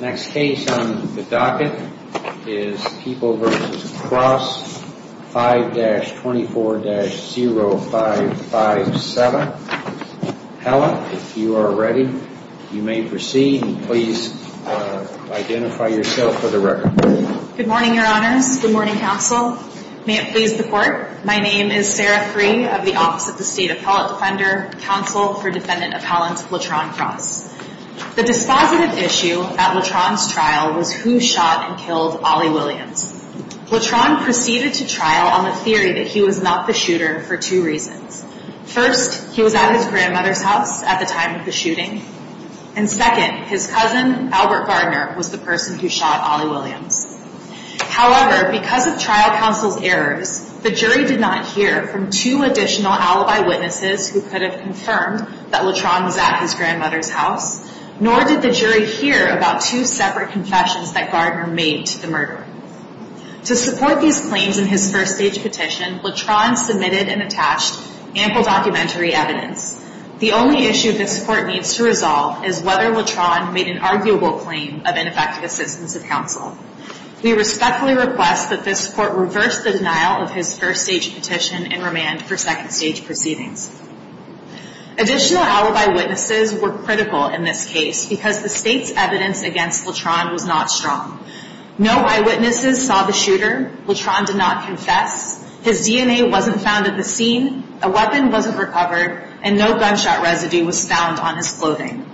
Next case on the docket is People v. Cross, 5-24-0557. Helen, if you are ready, you may proceed and please identify yourself for the record. Good morning, Your Honors. Good morning, Counsel. May it please the Court, my name is Sarah Freeh of the Office of the State Appellate Defender, Counsel for Defendant Appellant Latron Cross. The dispositive issue at Latron's trial was who shot and killed Ollie Williams. Latron proceeded to trial on the theory that he was not the shooter for two reasons. First, he was at his grandmother's house at the time of the shooting. And second, his cousin, Albert Gardner, was the person who shot Ollie Williams. However, because of trial counsel's errors, the jury did not hear from two additional alibi witnesses who could have confirmed that Latron was at his grandmother's house, nor did the jury hear about two separate confessions that Gardner made to the murderer. To support these claims in his first stage petition, Latron submitted and attached ample documentary evidence. The only issue this Court needs to resolve is whether Latron made an arguable claim of ineffective assistance of counsel. We respectfully request that this Court reverse the denial of his first stage petition and remand for second stage proceedings. Additional alibi witnesses were critical in this case because the State's evidence against Latron was not strong. No eyewitnesses saw the shooter, Latron did not confess, his DNA wasn't found at the scene, a weapon wasn't recovered, and no gunshot residue was found on his clothing.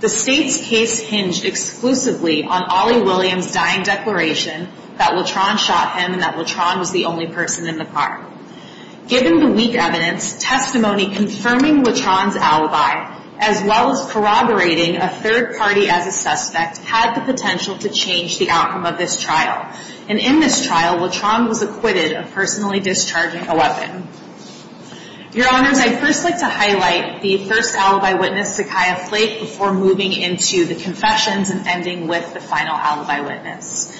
The State's case hinged exclusively on Ollie Williams' dying declaration that Latron shot him and that Latron was the only person in the car. Given the weak evidence, testimony confirming Latron's alibi, as well as corroborating a third party as a suspect, had the potential to change the outcome of this trial. And in this trial, Latron was acquitted of personally discharging a weapon. Your Honors, I'd first like to highlight the first alibi witness, Zakiya Flake, before moving into the confessions and ending with the final alibi witness.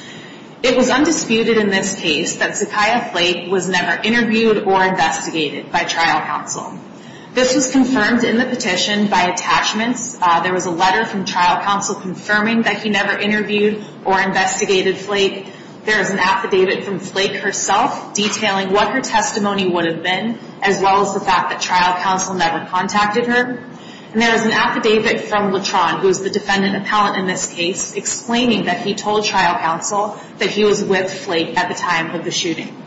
It was undisputed in this case that Zakiya Flake was never interviewed or investigated by trial counsel. This was confirmed in the petition by attachments. There was a letter from trial counsel confirming that he never interviewed or investigated Flake. There is an affidavit from Flake herself detailing what her testimony would have been, as well as the fact that trial counsel never contacted her. And there is an affidavit from Latron, who is the defendant appellant in this case, explaining that he told trial counsel that he was with Flake at the time of the shooting.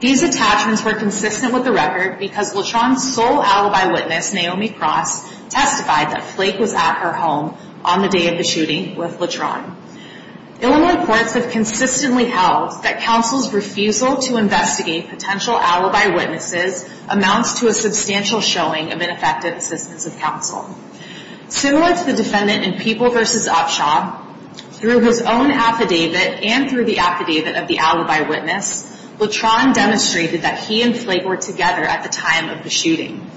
These attachments were consistent with the record because Latron's sole alibi witness, Naomi Cross, testified that Flake was at her home on the day of the shooting with Latron. Illinois courts have consistently held that counsel's refusal to investigate potential alibi witnesses amounts to a substantial showing of ineffective assistance of counsel. Similar to the defendant in People v. Upshaw, through his own affidavit and through the affidavit of the alibi witness, Latron demonstrated that he and Flake were together at the time of the shooting.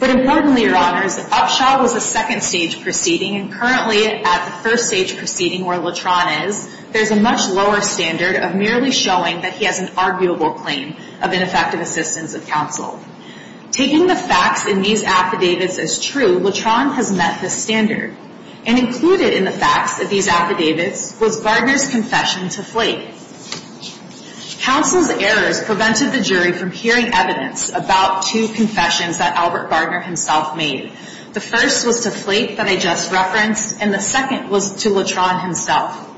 But importantly, Your Honors, Upshaw was a second stage proceeding and currently at the first stage proceeding where Latron is, there's a much lower standard of merely showing that he has an arguable claim of ineffective assistance of counsel. Taking the facts in these affidavits as true, Latron has met this standard. And included in the facts of these affidavits was Gardner's confession to Flake. Counsel's errors prevented the jury from hearing evidence about two confessions that Albert Gardner himself made. The first was to Flake that I just referenced, and the second was to Latron himself.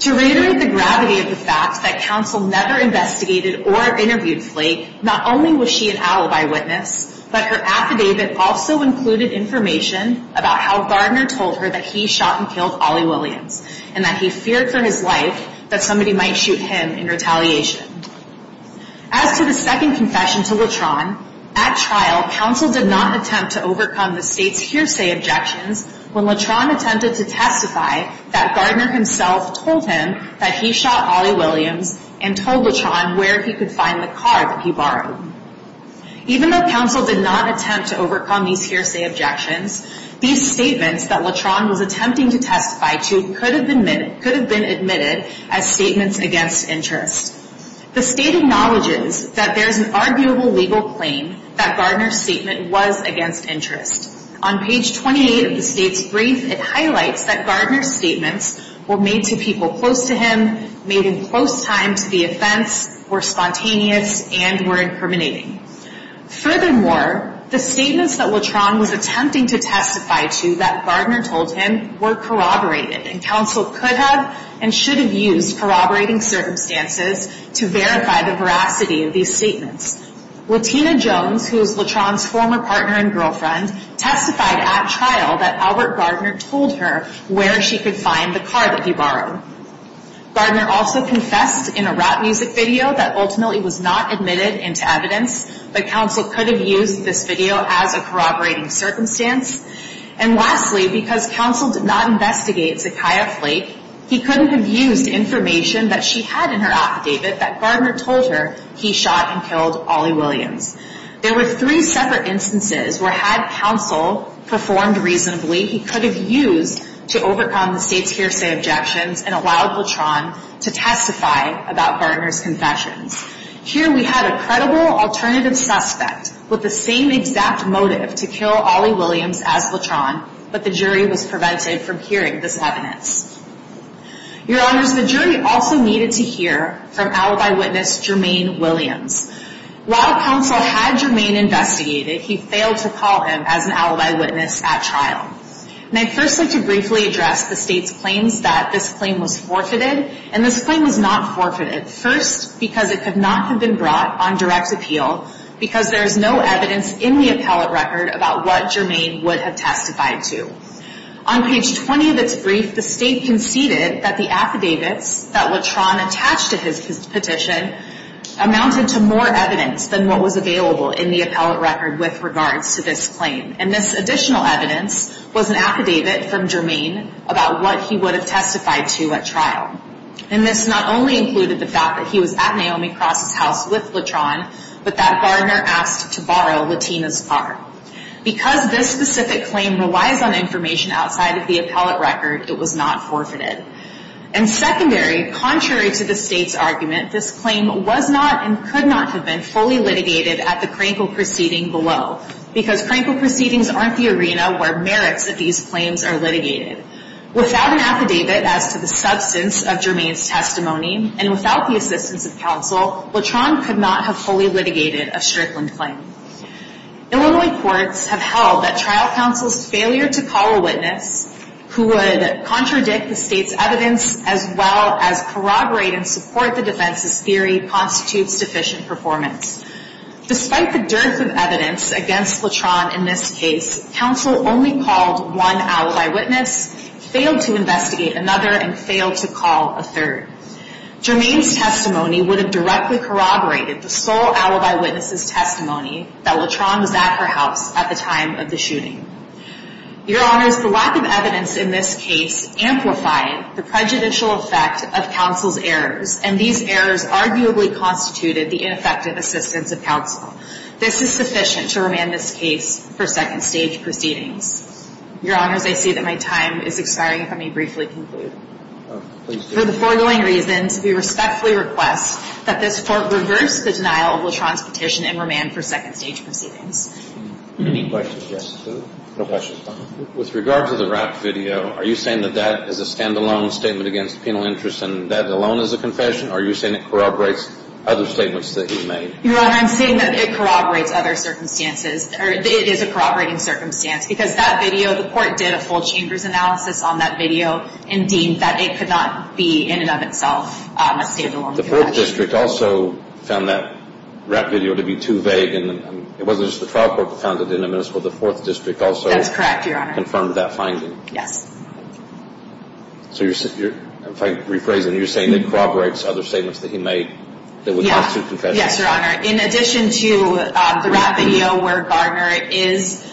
To reiterate the gravity of the fact that counsel never investigated or interviewed Flake, not only was she an alibi witness, but her affidavit also included information about how Gardner told her that he shot and killed Ollie Williams and that he feared for his life that somebody might shoot him in retaliation. As to the second confession to Latron, at trial, counsel did not attempt to overcome the state's hearsay objections when Latron attempted to testify that Gardner himself told him that he shot Ollie Williams and told Latron where he could find the car that he borrowed. Even though counsel did not attempt to overcome these hearsay objections, these statements that Latron was attempting to testify to could have been admitted as statements against interest. The state acknowledges that there is an arguable legal claim that Gardner's statement was against interest. On page 28 of the state's brief, it highlights that Gardner's statements were made to people close to him, made in close time to the offense, were spontaneous, and were incriminating. Furthermore, the statements that Latron was attempting to testify to that Gardner told him were corroborated and counsel could have and should have used corroborating circumstances to verify the veracity of these statements. Latina Jones, who is Latron's former partner and girlfriend, testified at trial that Albert Gardner told her where she could find the car that he borrowed. Gardner also confessed in a rap music video that ultimately was not admitted into evidence, but counsel could have used this video as a corroborating circumstance. And lastly, because counsel did not investigate Zakiah Flake, he couldn't have used information that she had in her affidavit that Gardner told her he shot and killed Ollie Williams. There were three separate instances where had counsel performed reasonably, he could have used to overcome the state's hearsay objections and allowed Latron to testify about Gardner's confessions. Here we had a credible alternative suspect with the same exact motive to kill Ollie Williams as Latron, but the jury was prevented from hearing this evidence. Your Honors, the jury also needed to hear from alibi witness Jermaine Williams. While counsel had Jermaine investigated, he failed to call him as an alibi witness at trial. And I'd first like to briefly address the state's claims that this claim was forfeited, and this claim was not forfeited, first because it could not have been brought on direct appeal because there is no evidence in the appellate record about what Jermaine would have testified to. On page 20 of its brief, the state conceded that the affidavits that Latron attached to his petition amounted to more evidence than what was available in the appellate record with regards to this claim. And this additional evidence was an affidavit from Jermaine about what he would have testified to at trial. And this not only included the fact that he was at Naomi Cross' house with Latron, but that Gardner asked to borrow Latina's car. Because this specific claim relies on information outside of the appellate record, it was not forfeited. And secondary, contrary to the state's argument, this claim was not and could not have been fully litigated at the Krankel proceeding below. Because Krankel proceedings aren't the arena where merits of these claims are litigated. Without an affidavit as to the substance of Jermaine's testimony, and without the assistance of counsel, Latron could not have fully litigated a Strickland claim. Illinois courts have held that trial counsel's failure to call a witness who would contradict the state's evidence as well as corroborate and support the defense's theory constitutes deficient performance. Despite the dearth of evidence against Latron in this case, counsel only called one alibi witness, failed to investigate another, and failed to call a third. Jermaine's testimony would have directly corroborated the sole alibi witness's testimony that Latron was at her house at the time of the shooting. Your Honors, the lack of evidence in this case amplified the prejudicial effect of counsel's errors, and these errors arguably constituted the ineffective assistance of counsel. This is sufficient to remand this case for second stage proceedings. Your Honors, I see that my time is expiring if I may briefly conclude. For the foregoing reasons, we respectfully request that this Court reverse the denial of Latron's petition and remand for second stage proceedings. Any questions? No questions. With regard to the rap video, are you saying that that is a stand-alone statement against penal interest and that alone is a confession, or are you saying it corroborates other statements that he made? Your Honor, I'm saying that it corroborates other circumstances, or it is a corroborating circumstance, because that video, the Court did a full chambers analysis on that video and deemed that it could not be, in and of itself, a stand-alone confession. The Fourth District also found that rap video to be too vague, and it wasn't just the trial court that found it innumerous, but the Fourth District also... That's correct, Your Honor. ...confirmed that finding. Yes. So you're, if I rephrase it, you're saying it corroborates other statements that he made that would constitute confessions? Yes, Your Honor. In addition to the rap video where Gardner is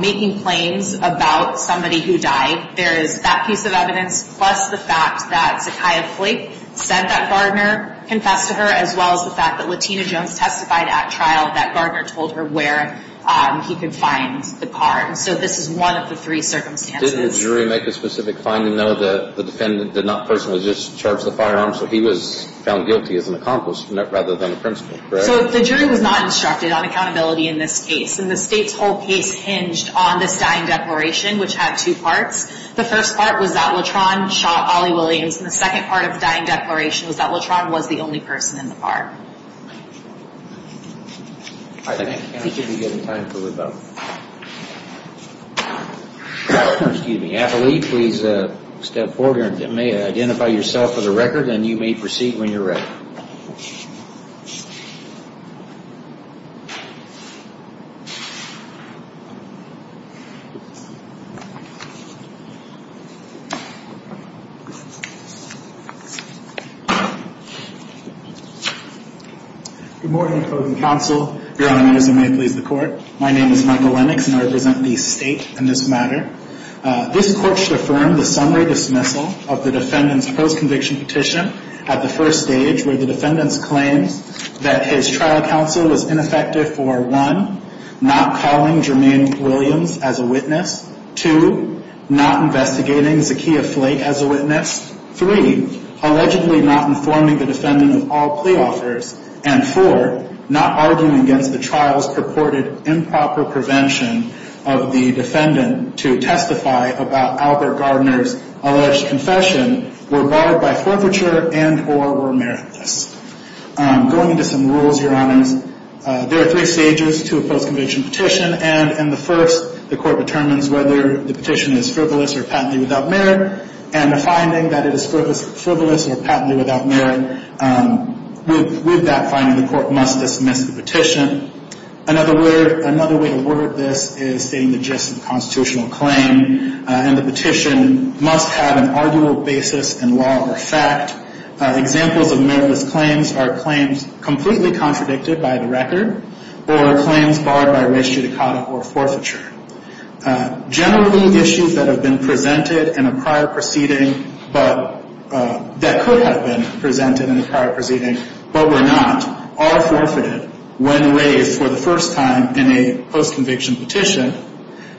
making claims about somebody who died, there is that piece of evidence, plus the fact that Zakiah Flake said that Gardner confessed to her, as well as the fact that Latina Jones testified at trial that Gardner told her where he could find the car. And so this is one of the three circumstances. Didn't the jury make a specific finding, though, that the defendant did not personally just charge the firearm, so he was found guilty as an accomplice rather than a principal, correct? So the jury was not instructed on accountability in this case, and the State's whole case hinged on this dying declaration, which had two parts. The first part was that Lutron shot Ollie Williams, and the second part of the dying declaration was that Lutron was the only person in the park. All right, I think we should be getting time for rebuttal. Excuse me. Appellee, please step forward here and may identify yourself for the record, and you may proceed when you're ready. Good morning, closing counsel. Your Honor, may it please the Court. My name is Michael Lennox, and I represent the State in this matter. This Court should affirm the summary dismissal of the defendant's post-conviction petition at the first stage, where the defendant's claim that his trial counsel was ineffective for, one, not calling Jermaine Williams guilty, and, two, that his trial counsel Two, not investigating Zakiya Flake as a witness. Three, allegedly not informing the defendant of all plea offers. And, four, not arguing against the trial's purported improper prevention of the defendant to testify about Albert Gardner's alleged confession were bothered by forfeiture and or were meritless. Going into some rules, Your Honors, there are three stages to a post-conviction petition, and in the first, the Court determines whether the petition is frivolous or patently without merit, and the finding that it is frivolous or patently without merit with that finding, the Court must dismiss the petition. Another way to word this is stating the gist of the constitutional claim, and the petition must have an arguable basis in law or fact. Examples of meritless claims are claims completely contradicted by the record or claims barred by res judicata or forfeiture. Generally, issues that have been presented in a prior proceeding, but that could have been presented in a prior proceeding but were not, are forfeited when raised for the first time in a post-conviction petition,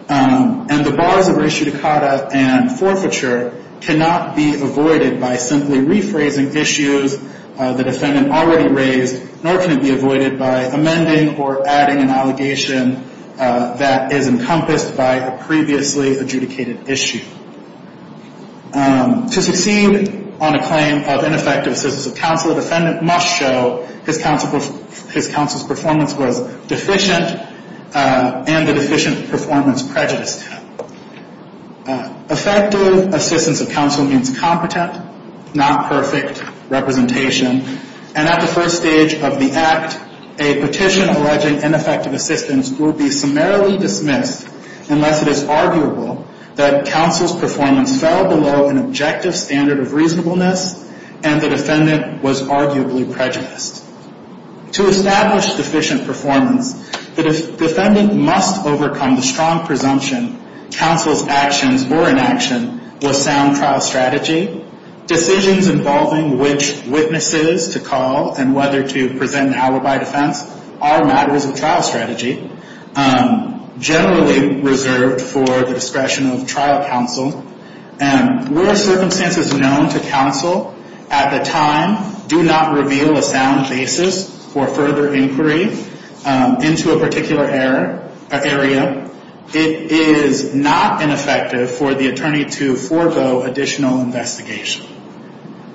and the bars of res judicata and forfeiture cannot be avoided by simply rephrasing issues the defendant already raised, nor can it be avoided by amending or adding an allegation that is encompassed by a previously adjudicated issue. To succeed on a claim of ineffective assistance of counsel, the defendant must show his counsel's performance was deficient and the deficient performance prejudiced him. Effective assistance of counsel means competent, not perfect representation, and at the first stage of the act, a petition alleging ineffective assistance will be summarily dismissed unless it is arguable that counsel's performance fell below an objective standard of reasonableness and the defendant was arguably prejudiced. To establish deficient performance, the defendant must overcome the strong presumption counsel's actions or inaction was sound trial strategy. Decisions involving which witnesses to call and whether to present an alibi defense are matters of trial strategy, generally reserved for the discretion of trial counsel, and were circumstances known to counsel at the time do not reveal a sound basis for further inquiry into a particular area. It is not ineffective for the attorney to forego additional investigation.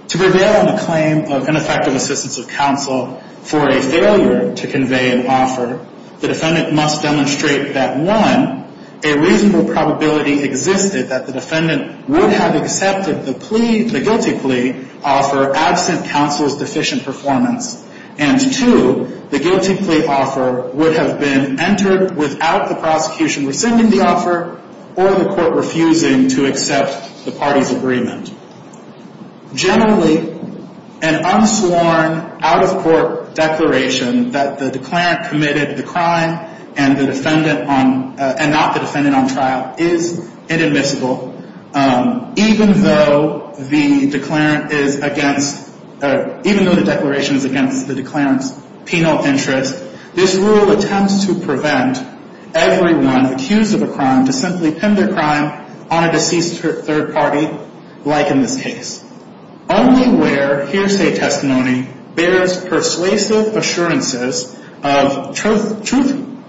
To prevail on a claim of ineffective assistance of counsel for a failure to convey an offer, the defendant must demonstrate that, one, a reasonable probability existed that the defendant would have accepted the guilty plea offer absent counsel's deficient performance, and two, the guilty plea offer would have been entered without the prosecution rescinding the offer or the court refusing to accept the party's agreement. Generally, an unsworn out-of-court declaration that the declarant committed the crime and not the defendant on trial is inadmissible, even though the declaration is against the declarant's penal interest. This rule attempts to prevent everyone accused of a crime to simply pin their crime on a deceased third party, like in this case. Only where hearsay testimony bears persuasive assurances of truth,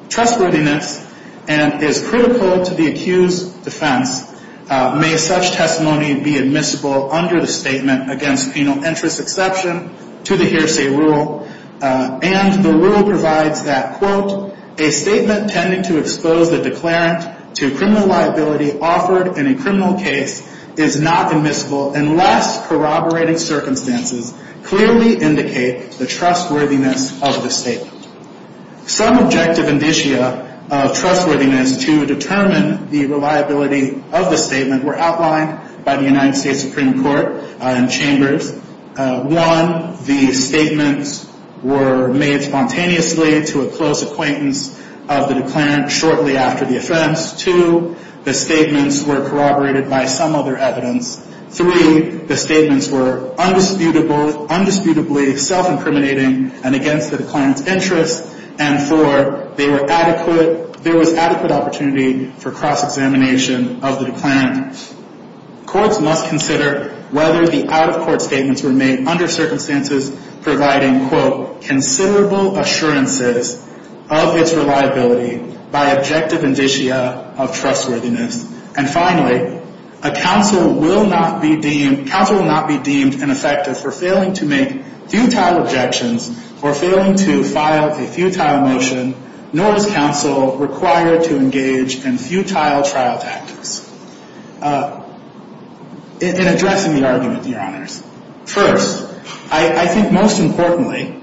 trustworthiness, and is critical to the accused's defense may such testimony be admissible under the Statement Against Penal Interest Exception to the Hearsay Rule. And the rule provides that, quote, a statement tending to expose the declarant to criminal liability offered in a criminal case is not admissible unless corroborating circumstances clearly indicate the trustworthiness of the statement. Some objective indicia of trustworthiness to determine the reliability of the statement were outlined by the United States Supreme Court in chambers. One, the statements were made spontaneously to a close acquaintance of the declarant shortly after the offense. Two, the statements were corroborated by some other evidence. Three, the statements were undisputably self-incriminating and against the declarant's interest. And four, there was adequate opportunity for cross-examination of the declarant. Courts must consider whether the out-of-court statements were made under circumstances providing, quote, considerable assurances of its reliability by objective indicia of trustworthiness. And finally, a counsel will not be deemed ineffective for failing to make futile objections or failing to file a futile motion, nor is counsel required to engage in futile trial tactics. In addressing the argument, Your Honors, first, I think most importantly,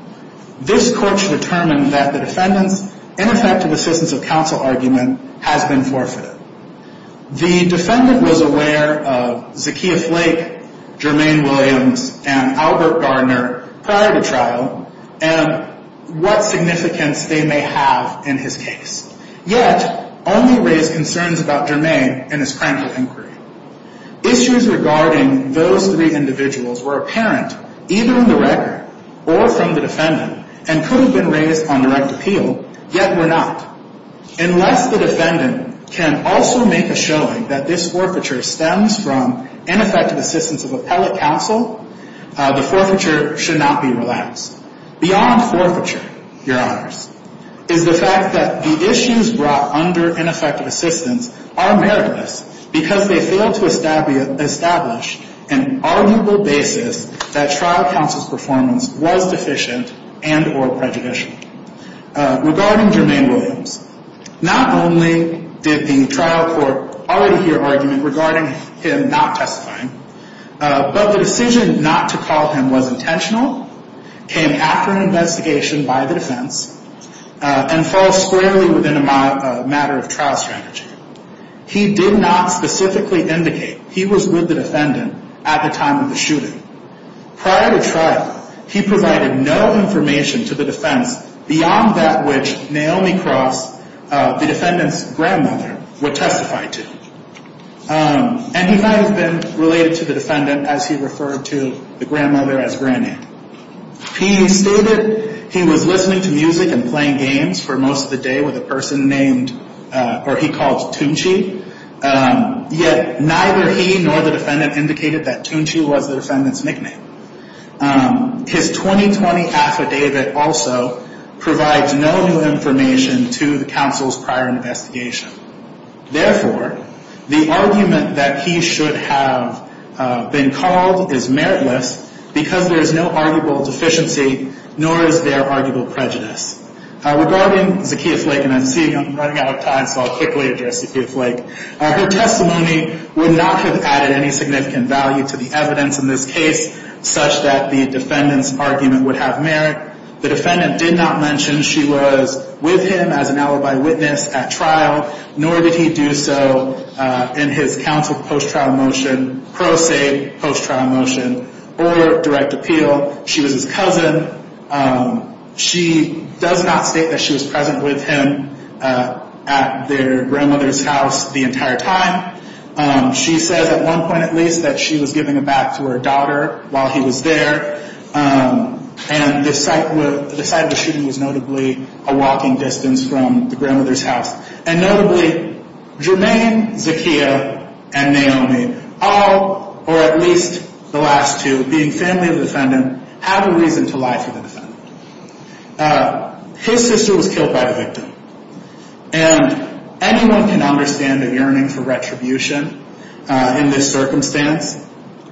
this Court should determine that the defendant's ineffective assistance of counsel argument has been forfeited. The defendant was aware of Zakiya Flake, Jermaine Williams, and Albert Gardner prior to trial and what significance they may have in his case, yet only raised concerns about Jermaine in his criminal inquiry. Issues regarding those three individuals were apparent either in the record or from the defendant and could have been raised on direct appeal, yet were not. Unless the defendant can also make a showing that this forfeiture stems from ineffective assistance of appellate counsel, the forfeiture should not be relaxed. Beyond forfeiture, Your Honors, is the fact that the issues brought under ineffective assistance are meritless because they fail to establish an arguable basis that trial counsel's performance was deficient and or prejudicial. Regarding Jermaine Williams, not only did the trial court already hear argument regarding him not testifying, but the decision not to call him was intentional, came after an investigation by the defense, and falls squarely within a matter of trial strategy. He did not specifically indicate he was with the defendant at the time of the shooting. Prior to trial, he provided no information to the defense beyond that which Naomi Cross, the defendant's grandmother, would testify to. And he might have been related to the defendant as he referred to the grandmother as Granny. He stated he was listening to music and playing games for most of the day with a person named, or he called Tunchi, yet neither he nor the defendant indicated that Tunchi was the defendant's nickname. His 2020 affidavit also provides no new information to the counsel's prior investigation. Therefore, the argument that he should have been called is meritless because there is no arguable deficiency, nor is there arguable prejudice. Regarding Zakiya Flake, and I'm seeing I'm running out of time, so I'll quickly address Zakiya Flake. Her testimony would not have added any significant value to the evidence in this case, such that the defendant's argument would have merit. The defendant did not mention she was with him as an alibi witness at trial, nor did he do so in his counsel post-trial motion, pro se post-trial motion, or direct appeal. She was his cousin. She does not state that she was present with him at their grandmother's house the entire time. She says at one point at least that she was giving a bath to her daughter while he was there, and the site of the shooting was notably a walking distance from the grandmother's house. And notably, Jermaine, Zakiya, and Naomi, all or at least the last two being family of the defendant, have a reason to lie for the defendant. His sister was killed by the victim. And anyone can understand a yearning for retribution in this circumstance.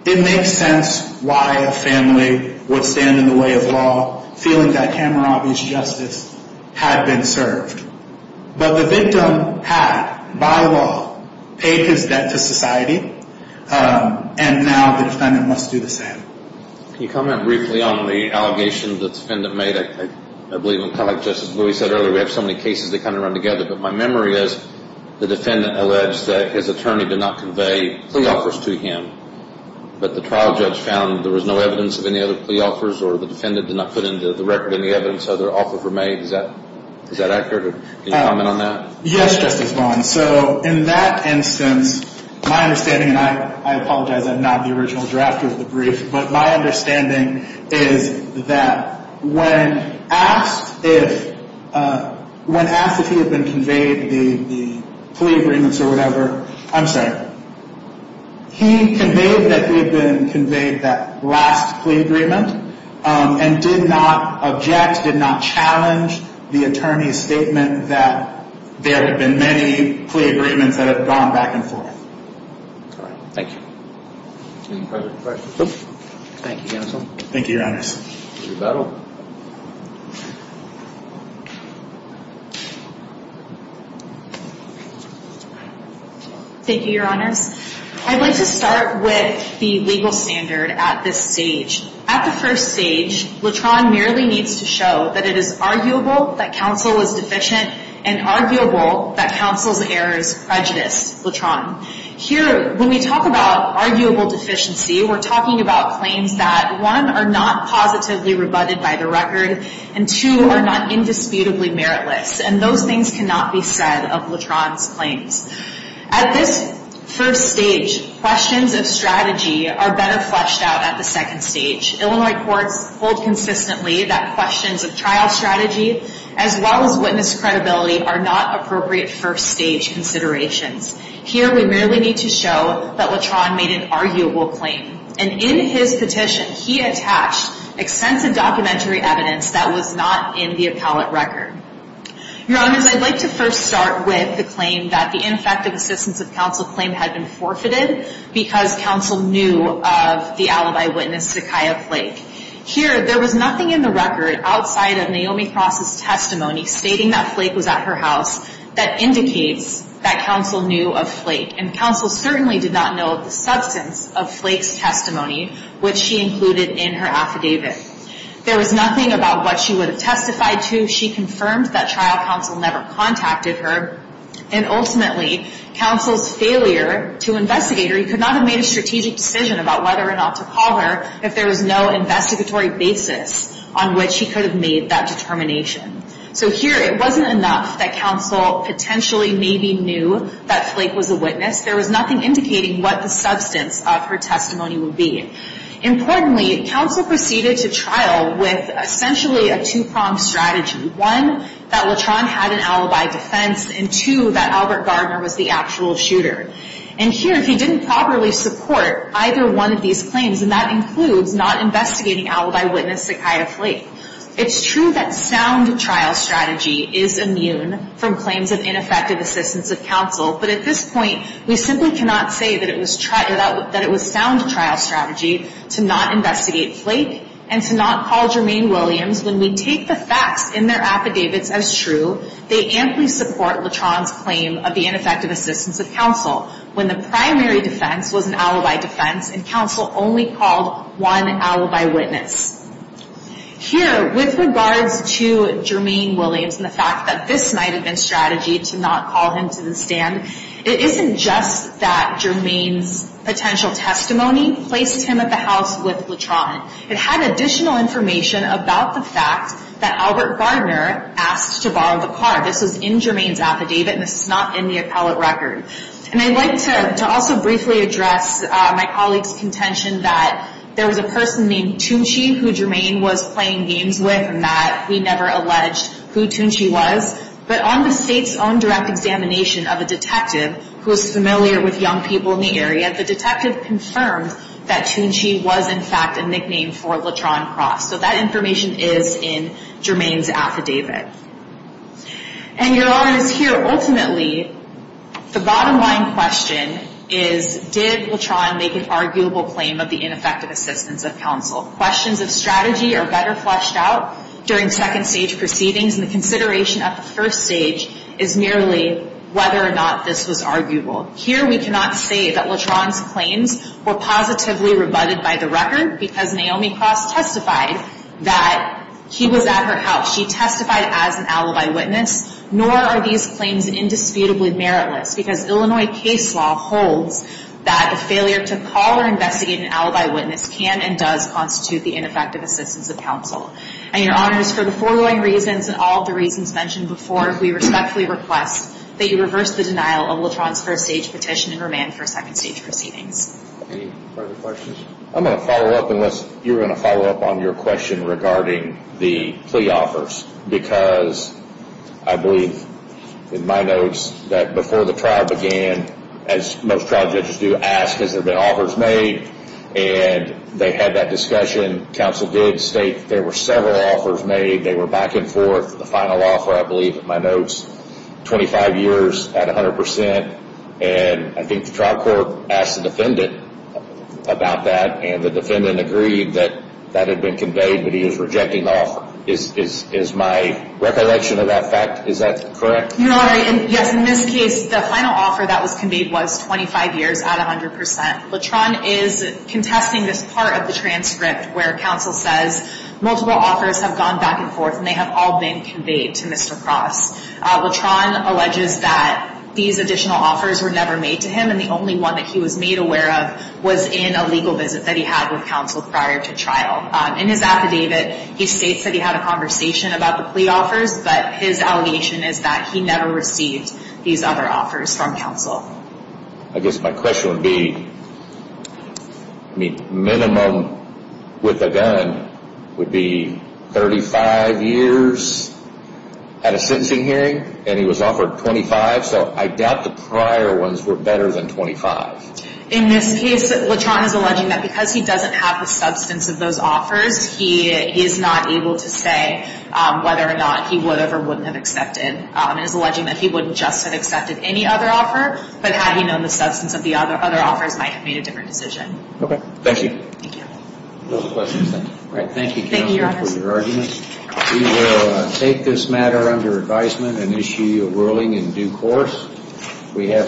It makes sense why a family would stand in the way of law feeling that Kamarabi's justice had been served. But the victim had, by law, paid his debt to society, and now the defendant must do the same. Can you comment briefly on the allegation the defendant made? I believe, kind of like Justice Lewis said earlier, we have so many cases that kind of run together. But my memory is the defendant alleged that his attorney did not convey plea offers to him, but the trial judge found there was no evidence of any other plea offers, or the defendant did not put into the record any evidence of other offers were made. Is that accurate? Can you comment on that? Yes, Justice Vaughn. So in that instance, my understanding, and I apologize I'm not the original drafter of the brief, but my understanding is that when asked if he had been conveyed the plea agreements or whatever, I'm sorry, he conveyed that he had been conveyed that last plea agreement and did not object, did not challenge the attorney's statement that there have been many plea agreements that have gone back and forth. All right. Thank you. Any further questions? No. Thank you, counsel. Thank you, Your Honors. Thank you, Your Honors. I'd like to start with the legal standard at this stage. At the first stage, Latron merely needs to show that it is arguable that counsel is deficient and arguable that counsel's errors prejudice Latron. Here, when we talk about arguable deficiency, we're talking about claims that, one, are not positively rebutted by the record, and two, are not indisputably meritless, and those things cannot be said of Latron's claims. At this first stage, questions of strategy are better fleshed out at the second stage. Illinois courts hold consistently that questions of trial strategy, as well as witness credibility, are not appropriate first stage considerations. Here, we merely need to show that Latron made an arguable claim, and in his petition, he attached extensive documentary evidence that was not in the appellate record. Your Honors, I'd like to first start with the claim that the ineffective assistance of counsel claim had been forfeited because counsel knew of the alibi witness, Zakiah Flake. Here, there was nothing in the record outside of Naomi Cross' testimony stating that Flake was at her house that indicates that counsel knew of Flake, and counsel certainly did not know of the substance of Flake's testimony, which she included in her affidavit. There was nothing about what she would have testified to. She confirmed that trial counsel never contacted her, and ultimately, counsel's failure to investigate her, he could not have made a strategic decision about whether or not to call her if there was no investigatory basis on which he could have made that determination. So here, it wasn't enough that counsel potentially maybe knew that Flake was a witness. There was nothing indicating what the substance of her testimony would be. Importantly, counsel proceeded to trial with essentially a two-pronged strategy. One, that Latron had an alibi defense, and two, that Albert Gardner was the actual shooter. And here, he didn't properly support either one of these claims, and that includes not investigating alibi witness Zakiah Flake. It's true that sound trial strategy is immune from claims of ineffective assistance of counsel, but at this point, we simply cannot say that it was sound trial strategy to not investigate Flake and to not call Jermaine Williams when we take the facts in their affidavits as true. They amply support Latron's claim of the ineffective assistance of counsel when the primary defense was an alibi defense and counsel only called one alibi witness. Here, with regards to Jermaine Williams and the fact that this might have been strategy to not call him to the stand, it isn't just that Jermaine's potential testimony placed him at the house with Latron. It had additional information about the fact that Albert Gardner asked to borrow the car. This is in Jermaine's affidavit, and this is not in the appellate record. And I'd like to also briefly address my colleague's contention that there was a person named Tunchi who Jermaine was playing games with and that he never alleged who Tunchi was. But on the state's own direct examination of a detective who was familiar with young people in the area, the detective confirmed that Tunchi was, in fact, a nickname for Latron Cross. So that information is in Jermaine's affidavit. And your audience here, ultimately, the bottom line question is, did Latron make an arguable claim of the ineffective assistance of counsel? Questions of strategy are better fleshed out during second-stage proceedings, and the consideration at the first stage is merely whether or not this was arguable. Here we cannot say that Latron's claims were positively rebutted by the record because Naomi Cross testified that he was at her house. She testified as an alibi witness, nor are these claims indisputably meritless because Illinois case law holds that the failure to call or investigate an alibi witness can and does constitute the ineffective assistance of counsel. And your Honors, for the foregoing reasons and all of the reasons mentioned before, we respectfully request that you reverse the denial of Latron's first-stage petition and remand for second-stage proceedings. Any further questions? I'm going to follow up unless you're going to follow up on your question regarding the plea offers because I believe in my notes that before the trial began, as most trial judges do, ask has there been offers made, and they had that discussion. Counsel did state there were several offers made. They were back and forth. The final offer, I believe in my notes, 25 years at 100%, and I think the trial court asked the defendant about that, and the defendant agreed that that had been conveyed, but he was rejecting the offer. Is my recollection of that fact, is that correct? Your Honor, yes, in this case, the final offer that was conveyed was 25 years at 100%. Latron is contesting this part of the transcript where counsel says multiple offers have gone back and forth and they have all been conveyed to Mr. Cross. Latron alleges that these additional offers were never made to him, and the only one that he was made aware of was in a legal visit that he had with counsel prior to trial. In his affidavit, he states that he had a conversation about the plea offers, but his allegation is that he never received these other offers from counsel. I guess my question would be, I mean, minimum with a gun would be 35 years at a sentencing hearing, and he was offered 25, so I doubt the prior ones were better than 25. In this case, Latron is alleging that because he doesn't have the substance of those offers, he is not able to say whether or not he would have or wouldn't have accepted, and is alleging that he wouldn't just have accepted any other offer, but had he known the substance of the other offers, might have made a different decision. Okay, thank you. Thank you. No questions then. All right, thank you, counsel, for your argument. We will take this matter under advisement and issue a ruling in due course. We have